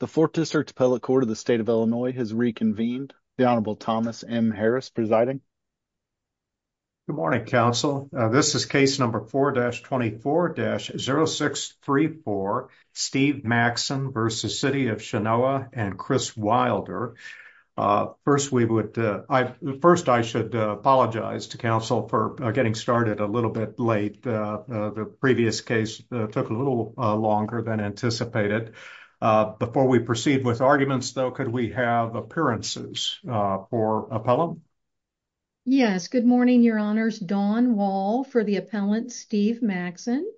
The Fourth District Appellate Court of the State of Illinois has reconvened. The Honorable Thomas M. Harris presiding. Good morning, counsel. This is case number 4-24-0634, Steve Maxson v. City of Chenoa and Chris Wilder. First, I should apologize to counsel for getting started a little bit late. The previous case took a little longer than anticipated. Before we proceed with arguments, though, could we have appearances for appellant? Yes. Good morning, Your Honors. Dawn Wall for the appellant, Steve Maxson.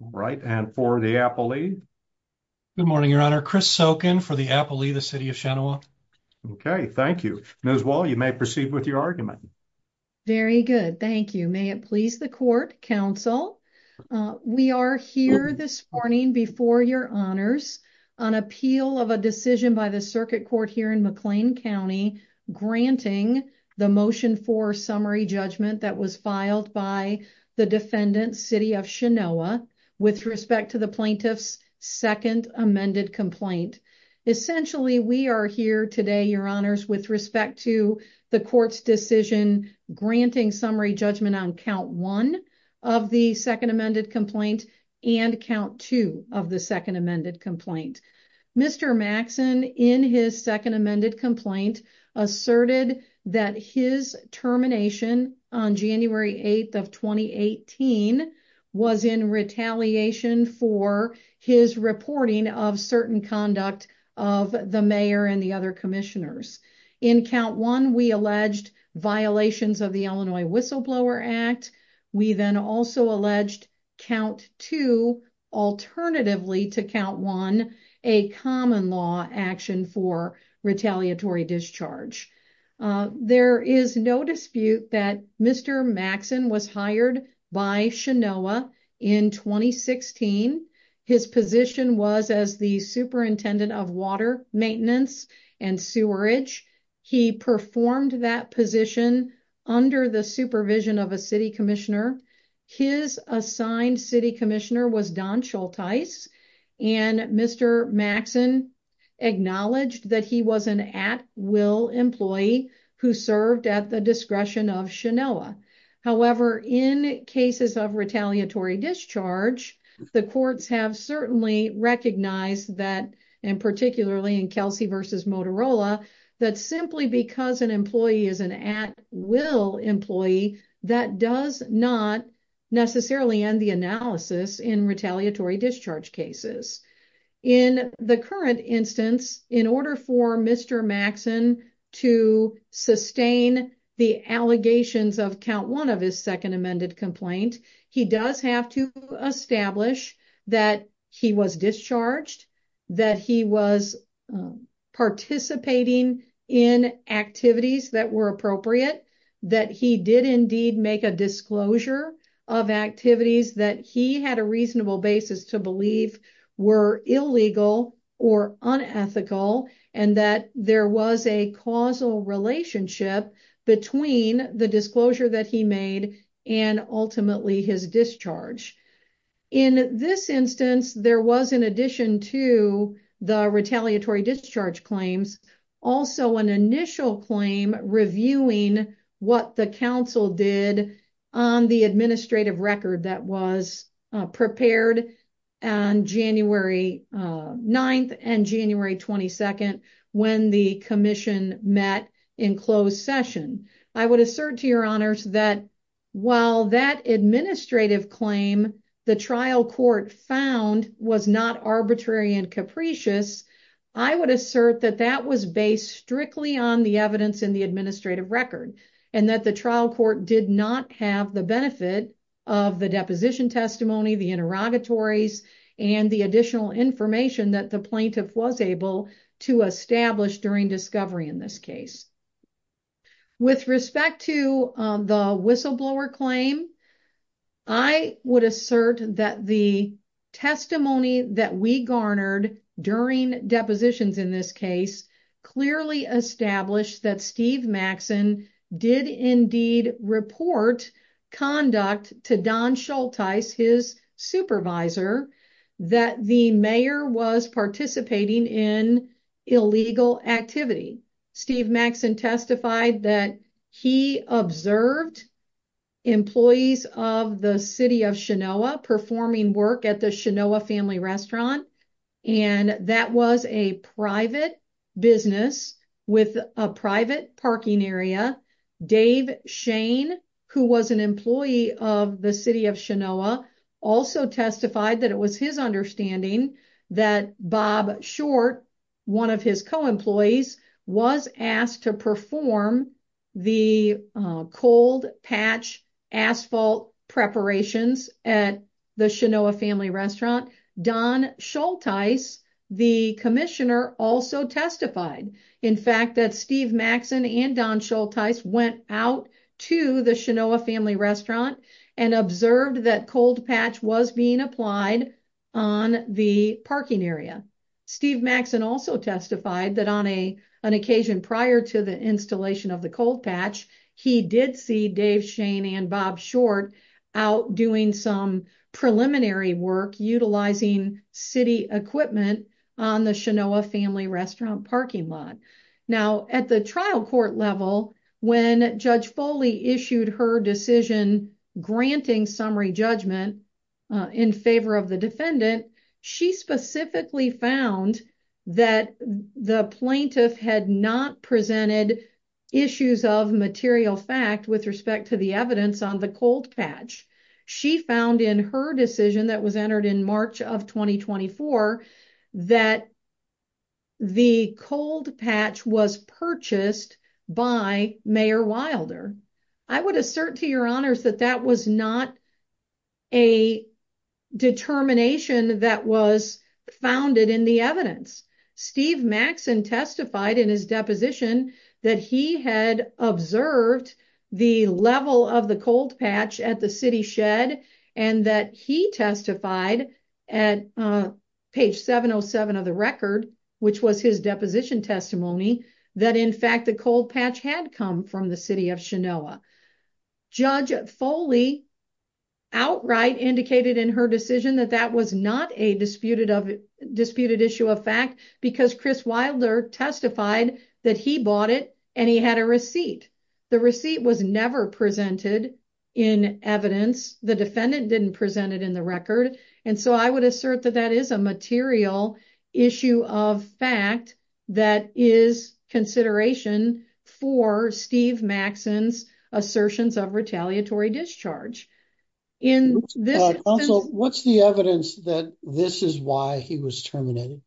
Right. And for the appellee? Good morning, Your Honor. Chris Sokin for the appellee, the City of Chenoa. Okay. Thank you. Ms. Wall, you may proceed with your argument. Very good. Thank you. May it please the court, counsel, we are here this morning before Your Honors on appeal of a decision by the Circuit Court here in McLean County granting the motion for summary judgment that was filed by the defendant, City of Chenoa, with respect to the plaintiff's second amended complaint. Essentially, we are here today, Your Honors, with respect to the court's decision granting summary judgment on count one of the second amended complaint and count two of the second amended complaint. Mr. Maxson, in his second amended complaint, asserted that his termination on January 8th of 2018 was in retaliation for his reporting of certain conduct of the mayor and the other commissioners. In count one, we alleged violations of the Illinois Whistleblower Act. We then also alleged count two, alternatively to count one, a common law action for retaliatory discharge. There is no dispute that Mr. Maxson was hired by Chenoa in 2016. His position was as the superintendent of water maintenance and sewerage. He performed that position under the supervision of a city commissioner. His assigned city commissioner was Don Schultice, and Mr. Maxson acknowledged that he was an at-will employee who served at the discretion of Chenoa. However, in cases of retaliatory discharge, the courts have certainly recognized that, and particularly in Kelsey v. Motorola, that simply because an employee is an at-will employee, that does not necessarily end the analysis in retaliatory discharge cases. In the current instance, in order for Mr. Maxson to sustain the allegations of count one of his second amended complaint, he does have to establish that he was discharged, that he was participating in activities that were appropriate, that he did indeed make a disclosure of activities that he had a reasonable basis to believe were illegal or unethical, and that there was a causal relationship between the disclosure that he made and ultimately his discharge. In this instance, there was, in addition to the retaliatory discharge claims, also an initial claim reviewing what the council did on the administrative record that was prepared on January 9th and January 22nd when the commission met in closed session. I would assert to your honors that while that administrative claim the trial court found was not arbitrary and capricious, I would assert that that was based strictly on the evidence in the administrative record and that the trial court did not have the benefit of the deposition testimony, the interrogatories, and the additional information that the plaintiff was able to establish during discovery in this case. With respect to the whistleblower claim, I would assert that the testimony that we garnered during depositions in this case clearly established that Steve Maxson did indeed report conduct to Don Schulteis, his supervisor, that the mayor was participating in illegal activity. Steve Maxson testified that he observed employees of the city of Chenoa performing work at the Chenoa Family Restaurant and that was a private business with a private parking area. Dave Shane, who was an employee of the city of Chenoa, also testified that it was his understanding that Bob Short, one of his co-employees, was asked to perform the cold patch asphalt preparations at the Chenoa Family Restaurant. Don Schulteis, the commissioner, also testified in fact that Steve Maxson and Don Schulteis went out to the Chenoa Family Restaurant and observed that cold patch was being applied on the parking area. Steve Maxson also testified that on an occasion prior to the installation of the cold patch, he did see Dave Shane and Bob Short out doing some preliminary work utilizing city equipment on the Chenoa Family Restaurant parking lot. Now, at the trial court level, when Judge Foley issued her decision granting summary judgment in favor of the defendant, she specifically found that the plaintiff had not presented issues of material fact with respect to the evidence on the cold patch. She found in her decision that was entered in March of 2024 that the cold patch was purchased by Mayor Wilder. I would assert to your honors that that was not a determination that was founded in the evidence. Steve Maxson testified in his deposition that he had observed the level of the cold patch at the city shed and that he testified at page 707 of the record, which was his deposition testimony, that in fact the cold patch had come from the city of Chenoa. Judge Foley outright indicated in her decision that that was not a disputed issue of fact because Chris Wilder testified that he bought it and he had a receipt. The receipt was never presented in evidence. The defendant didn't present it in the record and so I would assert that that is a material issue of fact that is consideration for Steve Maxson's assertions of retaliatory discharge. Counsel, what's the evidence that this is why he was terminated?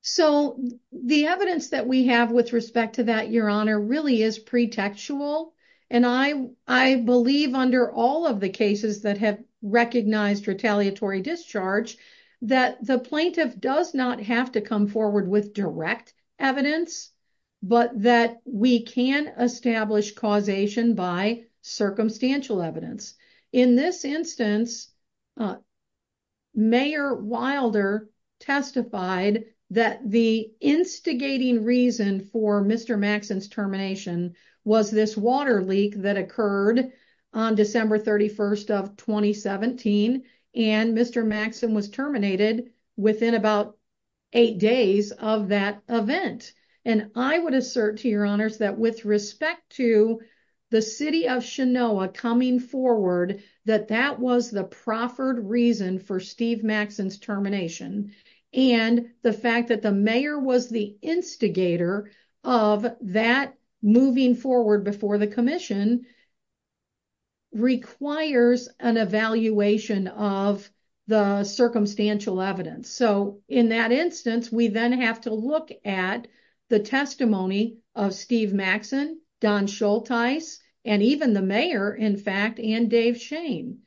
So, the evidence that we have with respect to that, your honor, really is pretextual and I believe under all of the cases that have recognized retaliatory discharge that the plaintiff does not have to come forward with direct evidence but that we can establish causation by circumstantial evidence. In this instance, Mayor Wilder testified that the instigating reason for Mr. Maxson's termination was this water leak that occurred on December 31st of 2017 and Mr. Maxson was terminated within about eight days of that event and I would assert to your honors that with respect to the city of Chenoa coming forward that that was the proffered reason for Steve Maxson's termination and the fact that the mayor was the instigator of that moving forward before the commission requires an evaluation of the circumstantial evidence. So, in that instance, we then have to look at the testimony of Steve Maxson, Don Schulteis, and even the mayor in fact and Dave Shane.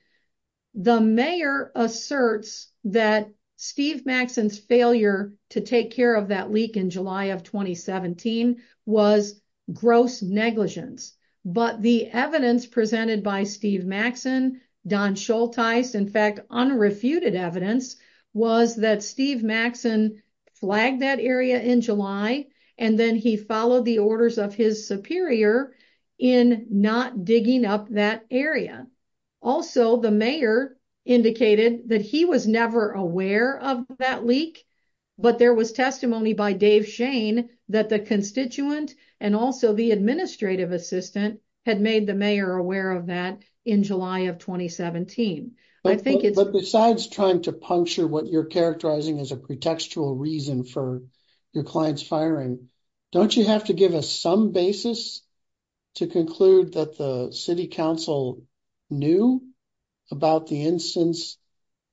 The mayor asserts that Steve Maxson's failure to take care of that leak in July of 2017 was gross negligence but the evidence presented by Steve Maxson, Don Schulteis, in fact unrefuted evidence was that Steve Maxson flagged that area in July and then he followed the orders of his superior in not digging up that area. Also, the mayor indicated that he was never aware of that leak but there was testimony by Dave Shane that the constituent and also the administrative assistant had made the mayor aware of that in July of 2017. I think it's... But besides trying to puncture what you're characterizing as a pretextual reason for your client's firing, don't you have to give us some basis to conclude that the city council knew about the instance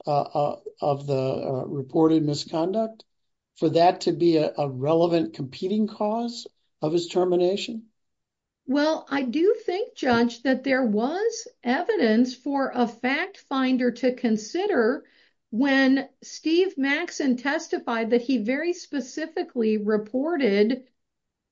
of the reported misconduct for that to be a relevant competing cause of his termination? Well, I do think, Judge, that there was evidence for a fact finder to consider when Steve Maxson testified that he very specifically reported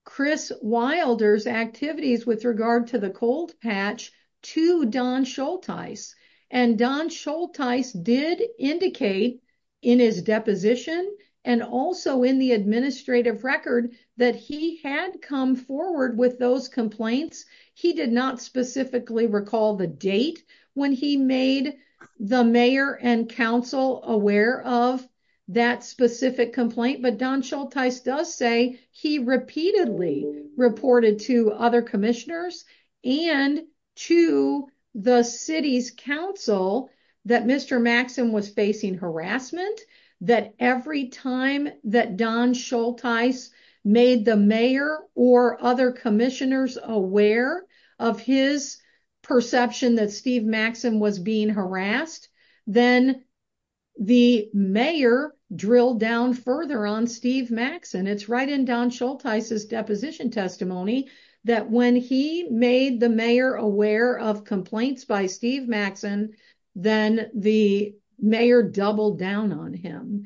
Chris Wilder's activities with regard to the cold patch to Don Schulteis and Don Schulteis did indicate in his deposition and also in the administrative record that he had come forward with those complaints. He did not specifically recall the date when he made the mayor and council aware of that specific complaint but Don Schulteis does say he repeatedly reported to other commissioners and to the city's council that Mr. Maxson was facing harassment, that every time that Don Schulteis made the mayor or other commissioners aware of his perception that Steve Maxson was being harassed, then the mayor drilled down further on Steve Maxson. It's right in Don Schulteis' deposition testimony that when he made the mayor aware of complaints by Steve Maxson, then the mayor doubled down on him.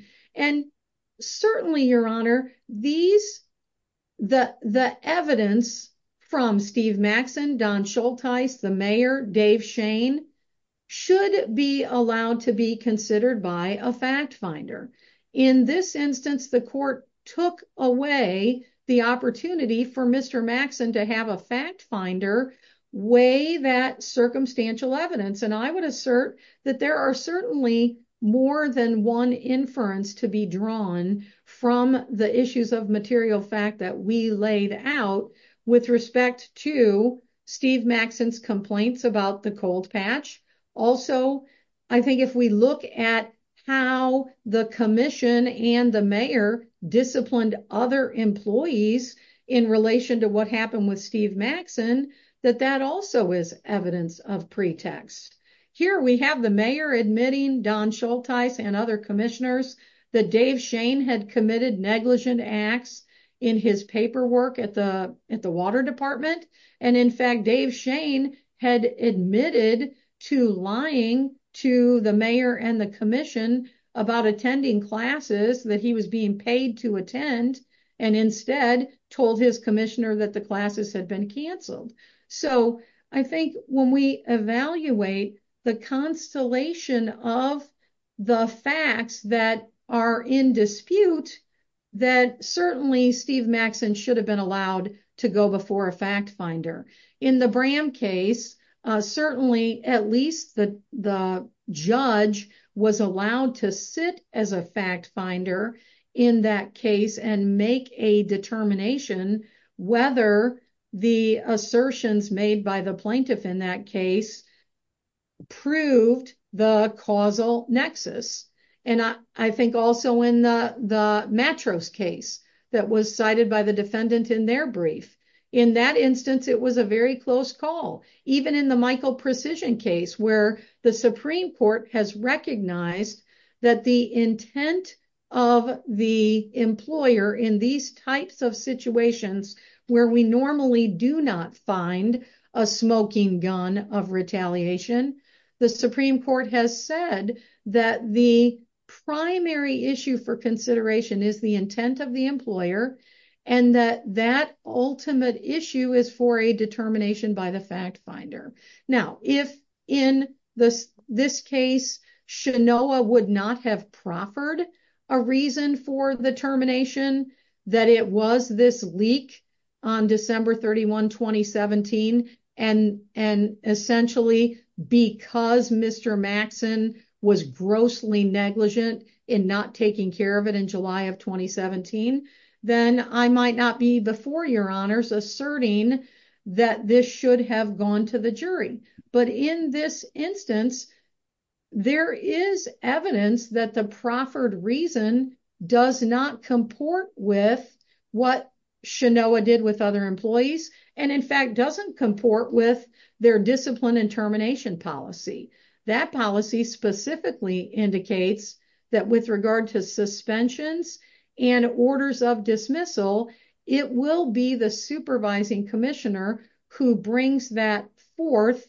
Certainly, Your Honor, the evidence from Steve Maxson, Don Schulteis, the mayor, Dave Shane should be allowed to be considered by a fact finder. In this instance, the court took away the opportunity for Mr. Maxson to have a fact finder weigh that circumstantial evidence and I would assert that there are certainly more than one inference to be drawn from the issues of material fact that we laid out with respect to Steve Maxson's complaints about the cold patch. Also, I think if we look at how the commission and the mayor disciplined other employees in relation to what happened with Steve Maxson, that that also is evidence of pretext. Here we have the mayor admitting Don Schulteis and other commissioners that Dave Shane had committed negligent acts in his paperwork at the water department. In fact, Dave Shane had admitted to lying to the mayor and the commission about attending classes that he was being paid to and instead told his commissioner that the classes had been canceled. So, I think when we evaluate the constellation of the facts that are in dispute, that certainly Steve Maxson should have been allowed to go before a fact finder. In the case, certainly at least the judge was allowed to sit as a fact finder in that case and make a determination whether the assertions made by the plaintiff in that case proved the causal nexus. I think also in the Matros case that was cited by the defendant in their brief, in that instance, it was a very close call. Even in the Michael Precision case where the Supreme Court has recognized that the intent of the employer in these types of situations where we normally do not find a smoking gun of retaliation, the Supreme Court has said that the primary issue for consideration is the intent of the employer and that that ultimate issue is for a determination by the fact finder. Now, if in this case, Shanoa would not have proffered a reason for the termination that it was this leak on December 31, 2017 and essentially because Mr. Maxson was grossly negligent in not taking care of it in July of 2017, then I might not be before your honors asserting that this should have gone to the jury. But in this instance, there is evidence that the proffered reason does not comport with what Shanoa did with other That policy specifically indicates that with regard to suspensions and orders of dismissal, it will be the supervising commissioner who brings that forth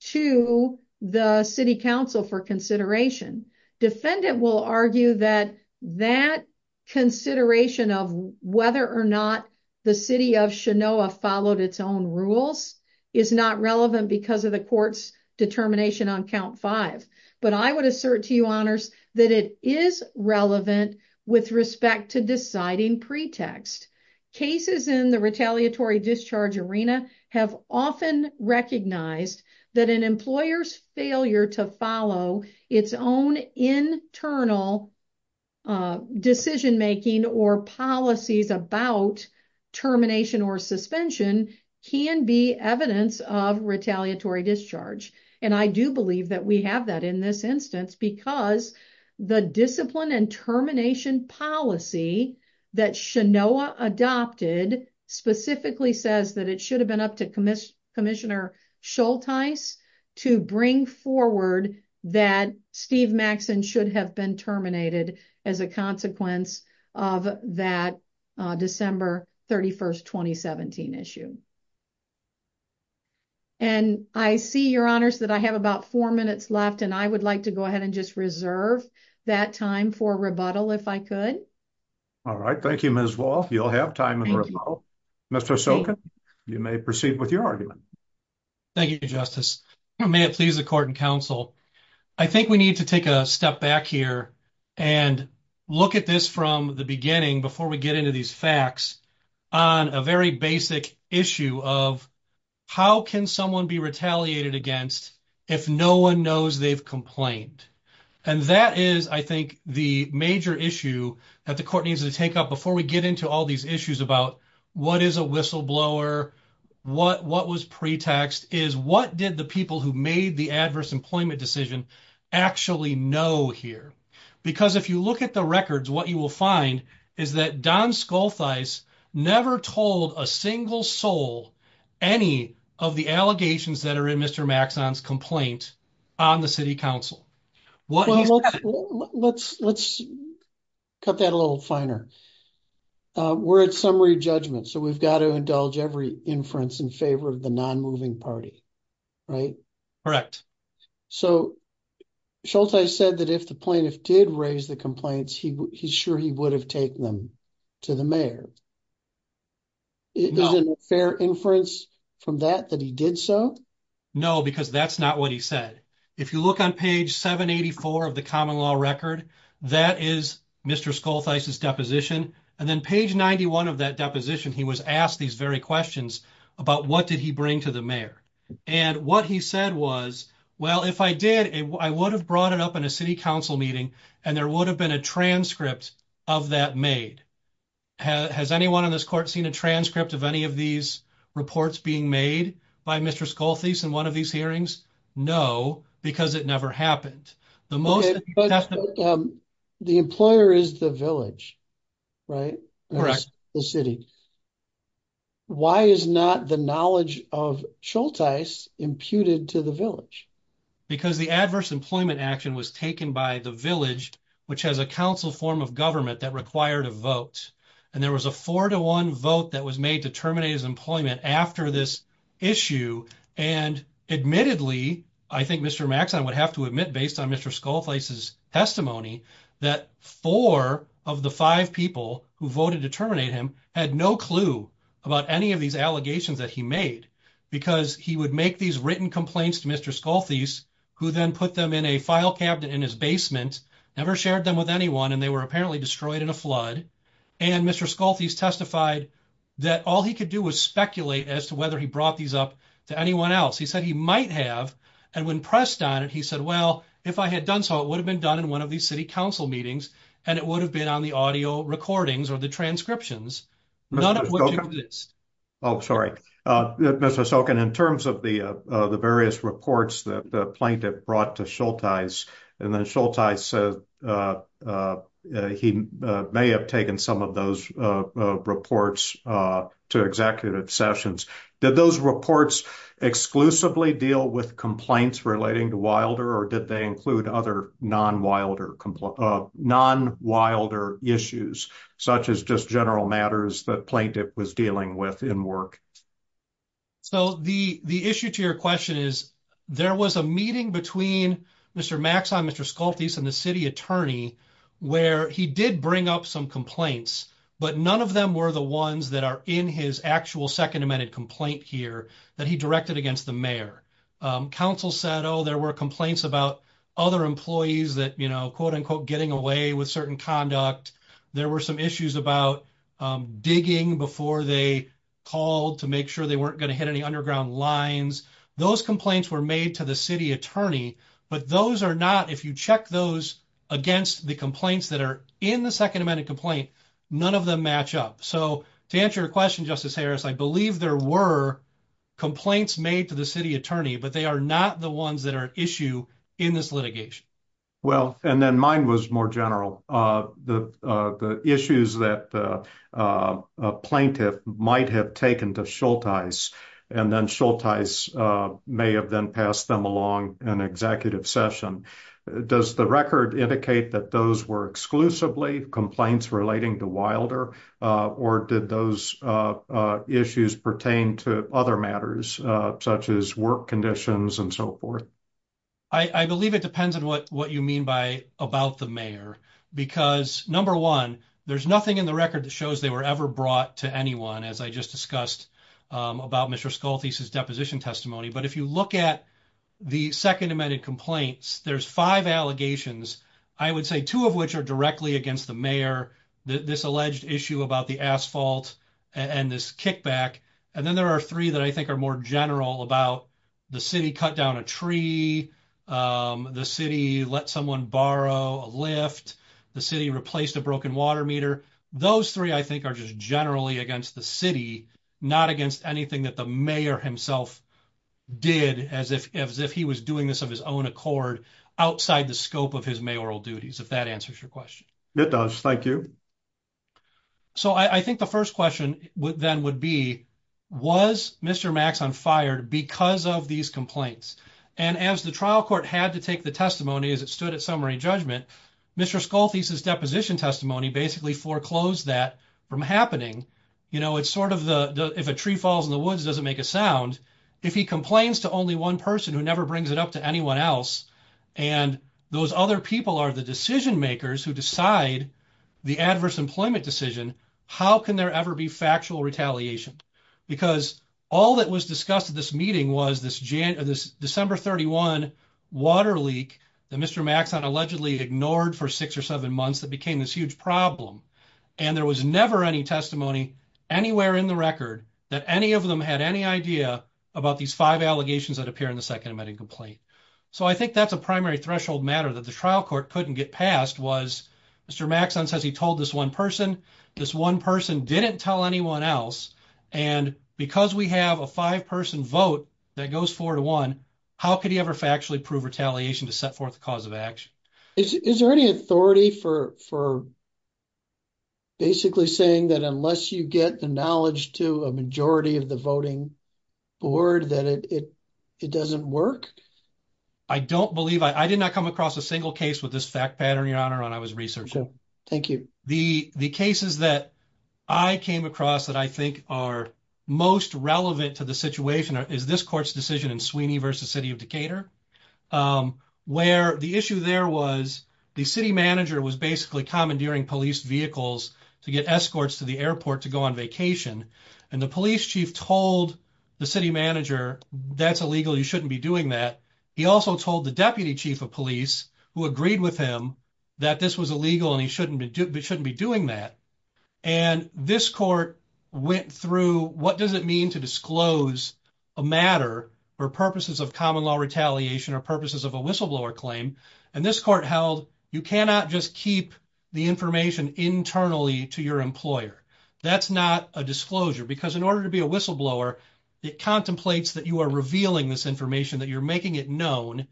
to the city council for consideration. Defendant will argue that that consideration of whether or not the city of Shanoa followed its own is not relevant because of the court's determination on count five. But I would assert to you honors that it is relevant with respect to deciding pretext. Cases in the retaliatory discharge arena have often recognized that an employer's failure to follow its own internal decision making or policies about termination or suspension can be evidence of retaliatory discharge. And I do believe that we have that in this instance because the discipline and termination policy that Shanoa adopted specifically says that it should have been up to as a consequence of that December 31st, 2017 issue. And I see your honors that I have about four minutes left and I would like to go ahead and just reserve that time for rebuttal if I could. All right. Thank you, Ms. Wall. You'll have time and Mr. Sokin, you may proceed with your argument. Thank you, Justice. May it please the court and I think we need to take a step back here and look at this from the beginning before we get into these facts on a very basic issue of how can someone be retaliated against if no one knows they've complained. And that is, I think, the major issue that the court needs to take up before we get into all these issues about what is a whistleblower, what was pretext, is what did the people who made the adverse employment decision actually know here? Because if you look at the records, what you will find is that Don Skoltheis never told a single soul any of the allegations that are in Mr. Maxon's complaint on the city council. Let's cut that a little finer. We're at summary judgment, so we've got to indulge every inference in favor of the non-moving party, right? Correct. So, Scholtheis said that if the plaintiff did raise the complaints, he's sure he would have taken them to the mayor. Is it a fair inference from that that he did so? No, because that's not what he said. If you look on page 784 of the common law record, that is Mr. Skoltheis's deposition. And then page 91 of that deposition, he was asked these very questions about what did bring to the mayor. And what he said was, well, if I did, I would have brought it up in a city council meeting and there would have been a transcript of that made. Has anyone in this court seen a transcript of any of these reports being made by Mr. Skoltheis in one of these hearings? No, because it never happened. The employer is the village, right? Correct. The city. Why is not the knowledge of Scholtheis imputed to the village? Because the adverse employment action was taken by the village, which has a council form of government that required a vote. And there was a four to one vote that was made to terminate his employment after this issue. And admittedly, I think Mr. Maxon would have to admit, based on Mr. Skoltheis's testimony, that four of the five people who voted to terminate him had no clue about any of these allegations that he made because he would make these written complaints to Mr. Skoltheis, who then put them in a file cabinet in his basement, never shared them with anyone. And they were apparently destroyed in a flood. And Mr. Skoltheis testified that all he could do was speculate as to whether he brought these up to anyone else. He said he might have. And when pressed on it, he said, well, if I had done so, it would have been done in one of these city council meetings. And it would have been on the audio recordings or the transcriptions. None of which exist. Oh, sorry. Mr. Stokin, in terms of the various reports that the plaintiff brought to Skoltheis, and then Skoltheis said he may have taken some of those reports to executive sessions. Did those reports exclusively deal with complaints relating to Wilder, or did they include other non-Wilder issues, such as just general matters that plaintiff was dealing with in work? So the issue to your question is, there was a meeting between Mr. Maxine, Mr. Skoltheis, and the city attorney, where he did bring up some complaints, but none of them were the ones that are in his actual Second Amendment complaint here that he directed against the mayor. Council said, oh, there were complaints about other employees that, you know, quote unquote, getting away with certain conduct. There were some issues about digging before they called to make sure they weren't going to hit any underground lines. Those complaints were made to the city attorney, but those are not, if you check those against the complaints that are in the Second Amendment complaint, none of them match up. So to answer your question, Justice Harris, I believe there were complaints made to the city attorney, but they are not the ones that are an issue in this litigation. Well, and then mine was more general. The issues that a plaintiff might have taken to Skoltheis, and then Skoltheis may have then passed them along in executive session. Does the record indicate that those were exclusively complaints relating to Wilder, or did those issues pertain to other matters, such as work conditions and so forth? I believe it depends on what you mean by about the mayor, because number one, there's nothing in the record that shows they were ever brought to anyone, as I just discussed about Mr. Skoltheis's deposition testimony. But if you look at the Second Amendment complaints, there's five allegations, I would say two of which are against the mayor, this alleged issue about the asphalt and this kickback. And then there are three that I think are more general about the city cut down a tree, the city let someone borrow a lift, the city replaced a broken water meter. Those three, I think, are just generally against the city, not against anything that the mayor himself did, as if he was doing this of his own outside the scope of his mayoral duties, if that answers your question. It does, thank you. So I think the first question then would be, was Mr. Maxon fired because of these complaints? And as the trial court had to take the testimony as it stood at summary judgment, Mr. Skoltheis's deposition testimony basically foreclosed that from happening. It's sort of the, if a tree falls in the woods, it doesn't make a sound. If he complains to only one person who never brings it up to anyone else, and those other people are the decision makers who decide the adverse employment decision, how can there ever be factual retaliation? Because all that was discussed at this meeting was this December 31 water leak that Mr. Maxon allegedly ignored for six or seven months that became this huge problem. And there was never any testimony anywhere in the record that any of them had any idea about these five allegations that appear in the second amending complaint. So I think that's a primary threshold matter that the trial court couldn't get passed was, Mr. Maxon says he told this one person, this one person didn't tell anyone else. And because we have a five person vote that goes four to one, how could he ever factually prove retaliation to set forth the cause of action? Is there any authority for basically saying that unless you get the knowledge to a majority of the voting board, that it doesn't work? I don't believe, I did not come across a single case with this fact pattern, Your Honor, when I was researching. Thank you. The cases that I came across that I think are most relevant to the situation is this court's decision in Sweeney versus City of Decatur, where the issue there was the city manager was basically commandeering police vehicles to get escorts to the airport to go on vacation. And the police chief told the city manager, that's illegal, you shouldn't be doing that. He also told the deputy chief of police who agreed with him that this was illegal and he shouldn't be doing that. And this court went through, what does it mean to disclose a matter for purposes of common law retaliation or purposes of a whistleblower claim? And this court held, you cannot just keep the information internally to your employer. That's not a disclosure because in order to be a whistleblower, it contemplates that you are revealing this information, that you're making it known.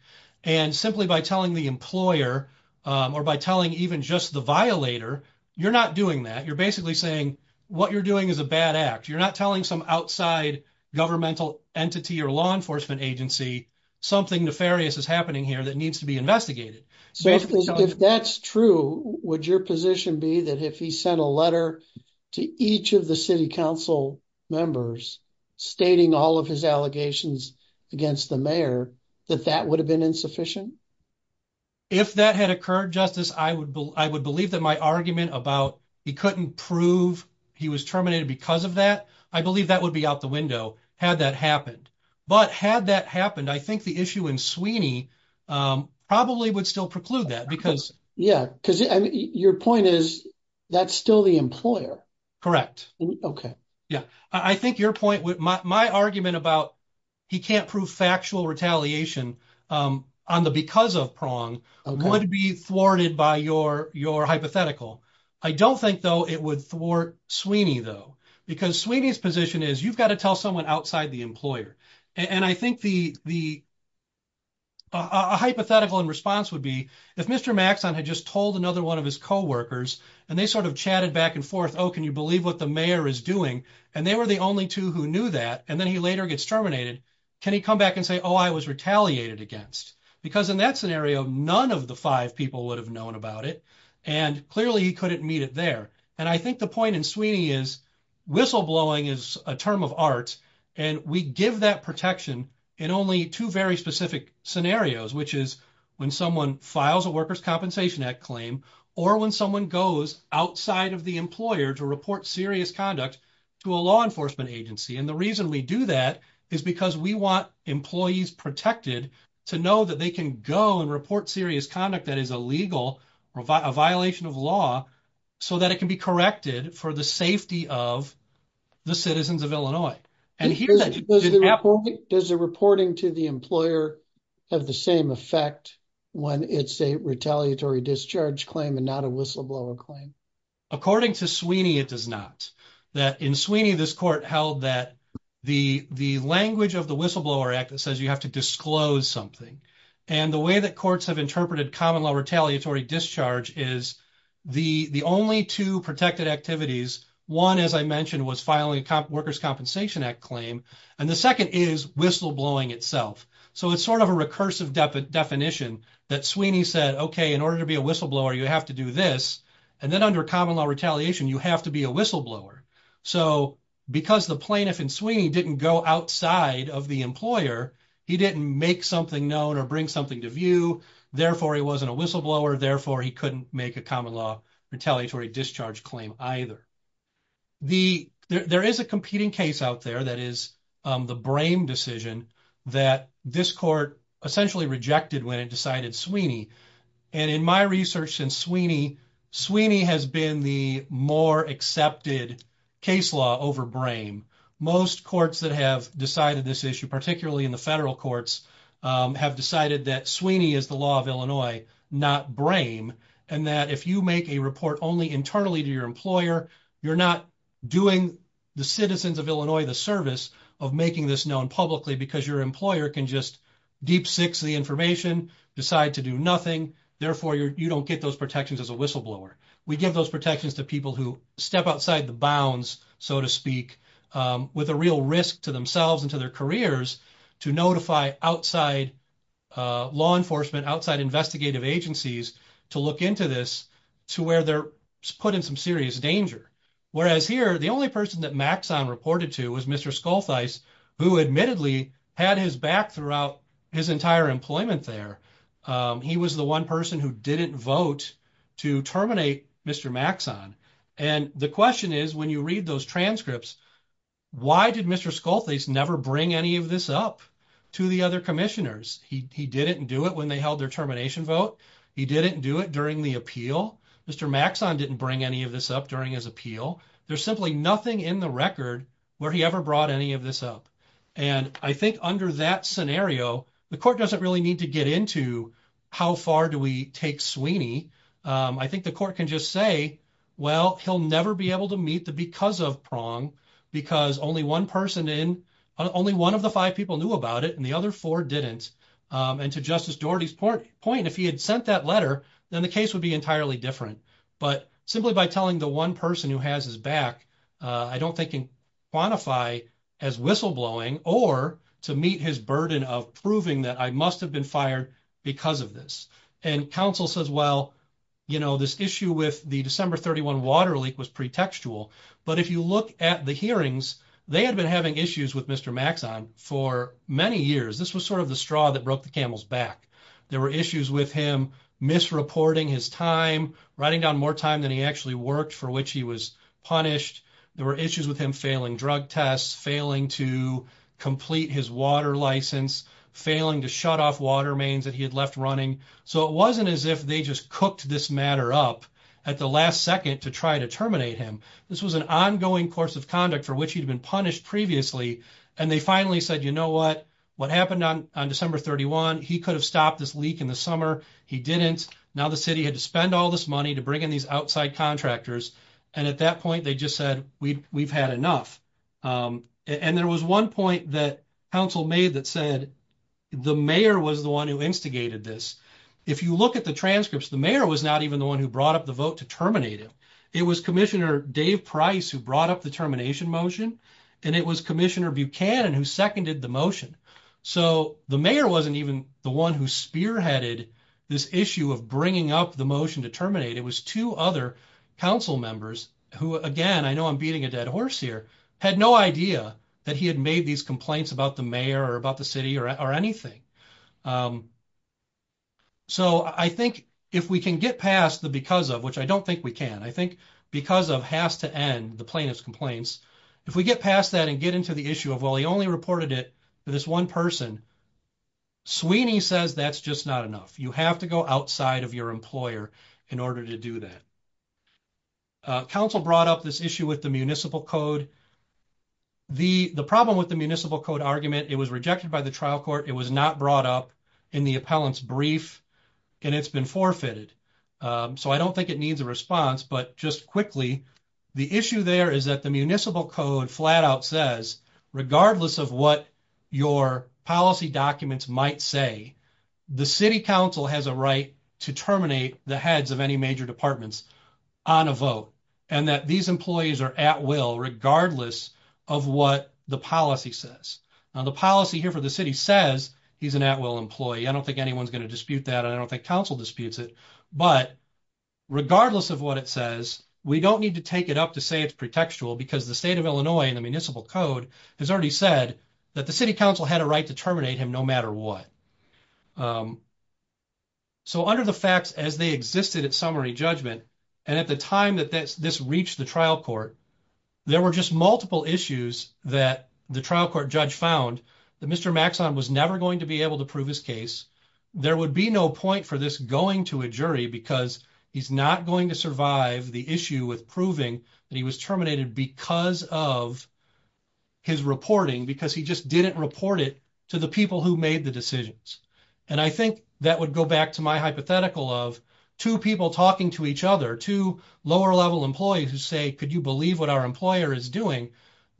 And simply by telling the employer or by telling even just the violator, you're not doing that. You're basically saying what you're doing is a bad act. You're not telling some outside governmental entity or law enforcement agency, something nefarious is happening here that needs to be investigated. So if that's true, would your position be that if he sent a letter to each of the city council members stating all of his allegations against the mayor, that that would have been insufficient? If that had occurred, Justice, I would believe that my argument about he couldn't prove he was terminated because of that, I believe that would be out the window had that happened. But had that happened, I think the issue in Sweeney probably would still preclude that because... Yeah. Because your point is that's still the employer. Okay. Yeah. I think your point with my argument about he can't prove factual retaliation on the because of prong would be thwarted by your hypothetical. I don't think though it would thwart Sweeney though, because Sweeney's position is you've got to tell someone outside the employer. And I think a hypothetical in response would be if Mr. Maxon had just told another one of his coworkers and they sort of chatted back and forth, oh, can you believe what the mayor is doing? And they were the only two who knew that. And then he later gets terminated. Can he come back and say, oh, I was retaliated against? Because in that scenario, none of the five people would have known about it. And clearly he couldn't meet it there. And I think the point in Sweeney is whistleblowing is a term of art. And we give that protection in only two very specific scenarios, which is when someone files a worker's compensation act claim, or when someone goes outside of the employer to report serious conduct to a law enforcement agency. And the reason we do that is because we want employees protected to know that they can go and report serious conduct that is illegal or a violation of law so that it can be corrected for the safety of the citizens of Illinois. Does the reporting to the employer have the same effect when it's a retaliatory discharge claim and not a whistleblower claim? According to Sweeney, it does not. In Sweeney, this court held that the language of the whistleblower act that says you have to disclose something. And the way that courts have interpreted common law retaliatory discharge is the only two protected activities. One, as I mentioned, was filing a worker's compensation act claim. And the second is whistleblowing itself. So it's sort of a recursive definition that Sweeney said, okay, in order to be a whistleblower, you have to do this. And then under common law retaliation, you have to be a whistleblower. So because the plaintiff and Sweeney didn't go outside of the employer, he didn't make something known or bring something to therefore he wasn't a whistleblower. Therefore he couldn't make a common law retaliatory discharge claim either. There is a competing case out there that is the Brame decision that this court essentially rejected when it decided Sweeney. And in my research in Sweeney, Sweeney has been the more accepted case law over Brame. Most courts that have decided this issue, particularly in the federal courts, have decided that Sweeney is the law of Illinois, not Brame. And that if you make a report only internally to your employer, you're not doing the citizens of Illinois the service of making this known publicly because your employer can just deep six the information, decide to do nothing. Therefore you don't get those protections as a whistleblower. We give those protections to people who step outside the bounds, so to speak, with a real risk to themselves and to their careers to notify outside law enforcement, outside investigative agencies to look into this, to where they're put in some serious danger. Whereas here, the only person that Maxon reported to was Mr. Skoltheis, who admittedly had his back throughout his entire employment there. He was the one person who didn't vote to terminate Mr. Maxon. And the question is, when you read those transcripts, why did Mr. Skoltheis never bring any of this up to the other commissioners? He didn't do it when they held their termination vote. He didn't do it during the appeal. Mr. Maxon didn't bring any of this up during his appeal. There's simply nothing in the record where he ever brought any of this up. And I think under that scenario, the court doesn't really need to get into how far do we take Sweeney. I think the court can just say, well, he'll never be able to meet the because of prong because only one person in, only one of the five people knew about it and the other four didn't. And to Justice Doherty's point, if he had sent that letter, then the case would be entirely different. But simply by telling the one person who has his back, I don't think he can quantify as whistleblowing or to meet his burden of proving that I must have been fired because of this. And counsel says, well, this issue with the December 31 water leak was pretextual. But if you look at the hearings, they had been having issues with Mr. Maxon for many years. This was sort of the straw that broke the camel's back. There were issues with him misreporting his time, writing down more time than he actually worked for which he was punished. There were issues with him failing drug tests, failing to complete his water license, failing to shut off water mains that he had left running. So it wasn't as if they just cooked this matter up at the last second to try to terminate him. This was an ongoing course of conduct for which he'd been punished previously. And they finally said, you know what, what happened on December 31, he could have stopped this leak in the summer. He didn't. Now the city had to spend all this money to bring in these outside contractors. And at that point, they just said, we've had enough. And there was one point that council made that said the mayor was the one who instigated this. If you look at the transcripts, the mayor was not even the one who brought up the vote to terminate him. It was Commissioner Dave Price who brought up the termination motion, and it was Commissioner Buchanan who seconded the motion. So the mayor wasn't even the one who spearheaded this issue of bringing up the motion to terminate. It was two other council members who, again, I know I'm these complaints about the mayor or about the city or anything. So I think if we can get past the because of, which I don't think we can, I think because of has to end the plaintiff's complaints. If we get past that and get into the issue of, well, he only reported it to this one person, Sweeney says that's just not enough. You have to go outside of your employer in order to do that. Council brought up this issue with the municipal code. The problem with the municipal code argument, it was rejected by the trial court. It was not brought up in the appellant's brief, and it's been forfeited. So I don't think it needs a response, but just quickly, the issue there is that the municipal code flat out says, regardless of what your policy documents might say, the city council has a right to terminate the heads of any major departments on a vote, and that these employees are at will regardless of what the policy says. Now, the policy here for the city says he's an at will employee. I don't think anyone's going to dispute that, and I don't think council disputes it. But regardless of what it says, we don't need to take it up to say it's pretextual because the state of Illinois and the municipal code has already said that the city council had a right to terminate him no matter what. So under the facts as they existed at summary judgment, and at the time that this reached the trial court, there were just multiple issues that the trial court judge found that Mr. Maxon was never going to be able to prove his case. There would be no point for this going to a jury because he's not going to survive the issue with proving that he was terminated because of his reporting, because he just didn't report it to the people who made the decisions. And I think that would go back to my hypothetical of two people talking to each other, two lower level employees who say, could you believe what our employer is doing?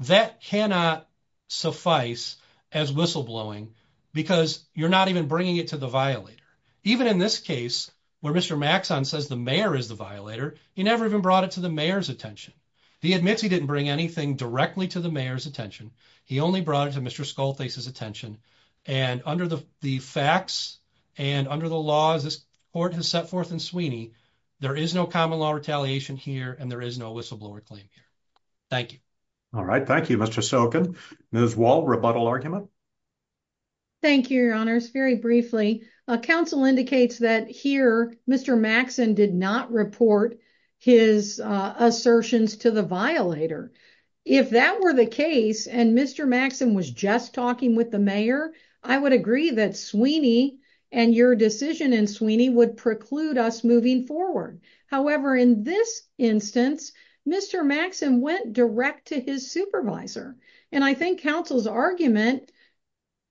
That cannot suffice as whistleblowing because you're not even bringing it to the violator. Even in this case where Mr. Maxon says the mayor is the violator, he never even brought it to the mayor's attention. He admits he didn't bring anything directly to the mayor's attention. He only brought it to Mr. Skoltes' attention. And under the facts and under the laws this court has set forth in Sweeney, there is no common law retaliation here and there is no whistleblower claim here. Thank you. All right. Thank you, Mr. Sokin. Ms. Wald, rebuttal argument. Thank you, your honors. Very briefly, council indicates that here Mr. Maxon did not report his assertions to the violator. If that were the case, and Mr. Maxon was just talking with the mayor, I would agree that Sweeney and your decision in Sweeney would preclude us moving forward. However, in this instance, Mr. Maxon went direct to his supervisor. And I think council's argument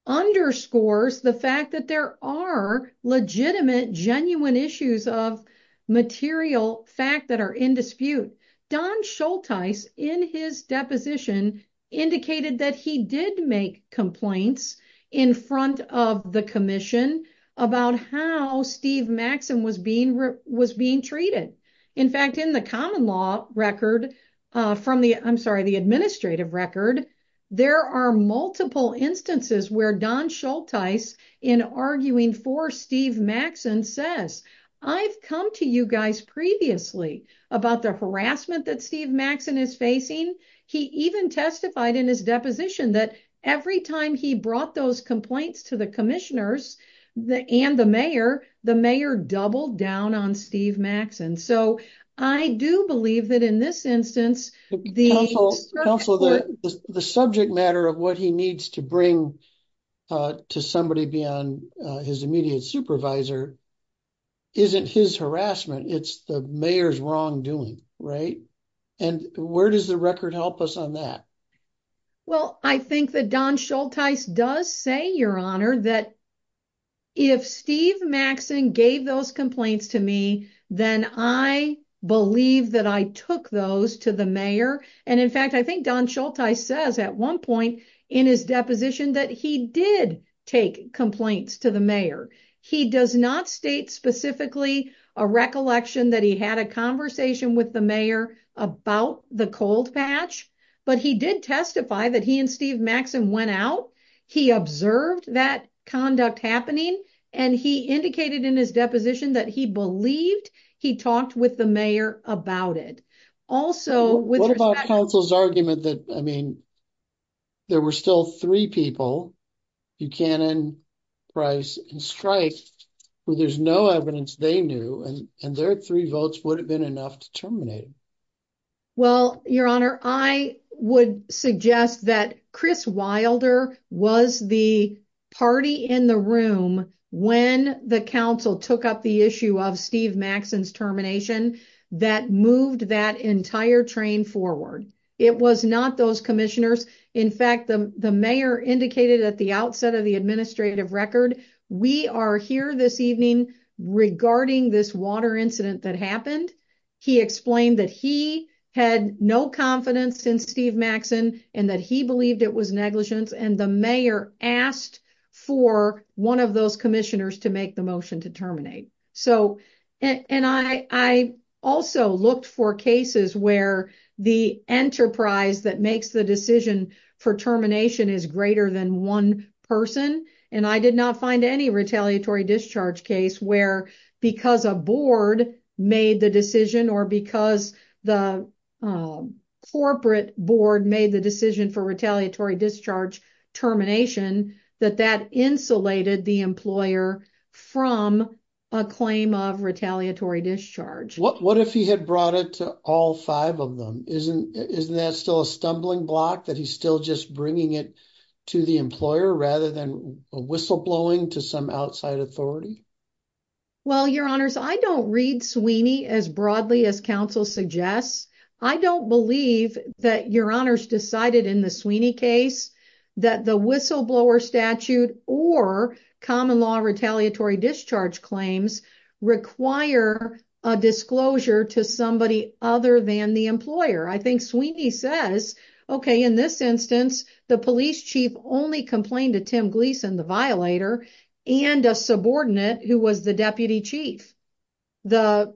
underscores the fact that there are legitimate, genuine issues of material fact that are in dispute. Don Schultes in his deposition indicated that he did make complaints in front of the commission about how Steve Maxson was being treated. In fact, in the common law record from the, I'm sorry, the administrative record, there are multiple instances where Don Schultes in arguing for Steve Maxson says, I've come to you guys previously about the harassment that Steve Maxson is facing. He even testified in his deposition that every time he brought those complaints to the commissioners and the mayor, the mayor doubled down on Steve Maxson. So I do believe that in this instance, the subject matter of what he needs to bring to somebody beyond his immediate supervisor isn't his harassment. It's the mayor's wrongdoing, right? And where does the record help us on that? Well, I think that Don Schultes does say, your honor, that if Steve took those to the mayor, and in fact, I think Don Schultes says at one point in his deposition that he did take complaints to the mayor. He does not state specifically a recollection that he had a conversation with the mayor about the cold patch, but he did testify that he and Steve Maxson went out. He observed that conduct happening and he indicated in his deposition that he believed he talked with the mayor about it. What about counsel's argument that, I mean, there were still three people, Buchanan, Price, and Streich, where there's no evidence they knew, and their three votes would have been enough to terminate him? Well, your honor, I would suggest that Chris Wilder was the party in the room when the council took up the issue of Steve Maxson's termination that moved that entire train forward. It was not those commissioners. In fact, the mayor indicated at the outset of the administrative record, we are here this evening regarding this water incident that happened. He explained that he had no confidence in Steve Maxson, and that he believed it was negligence, and the mayor asked for one of those commissioners to make the motion to terminate. I also looked for cases where the enterprise that makes the decision for termination is greater than one person, and I did not find any retaliatory discharge case where because a board made the decision, or because the corporate board made the decision for retaliatory discharge termination, that that insulated the employer from a claim of retaliatory discharge. What if he had brought it to all five of them? Isn't that still a stumbling block that he's still just bringing it to the employer rather than a whistleblowing to some authority? Well, your honors, I don't read Sweeney as broadly as counsel suggests. I don't believe that your honors decided in the Sweeney case that the whistleblower statute or common law retaliatory discharge claims require a disclosure to somebody other than the employer. I think Sweeney says, okay, in this instance, the police chief only complained to Tim Gleason, the violator, and a subordinate who was the deputy chief. The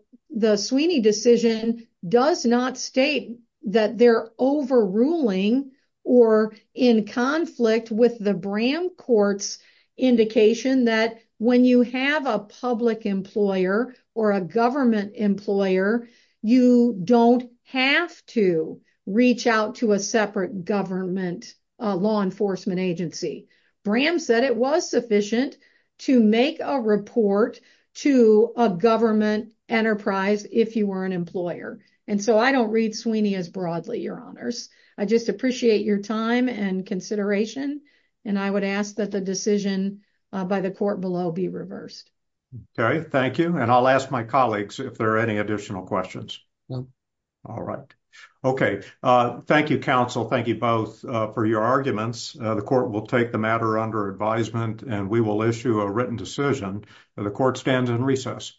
Sweeney decision does not state that they're overruling or in conflict with the Bram courts indication that when you have a public employer or a government employer, you don't have to reach out to a separate government law enforcement agency. Bram said it was sufficient to make a report to a government enterprise if you were an employer. And so I don't read Sweeney as broadly, your honors. I just appreciate your time and consideration. And I would ask that the decision by the court below be reversed. Okay. Thank you. And I'll ask my colleagues if there are any additional questions. All right. Okay. Thank you, counsel. Thank you both for your arguments. The court will take the matter under advisement and we will issue a written decision. The court stands in recess.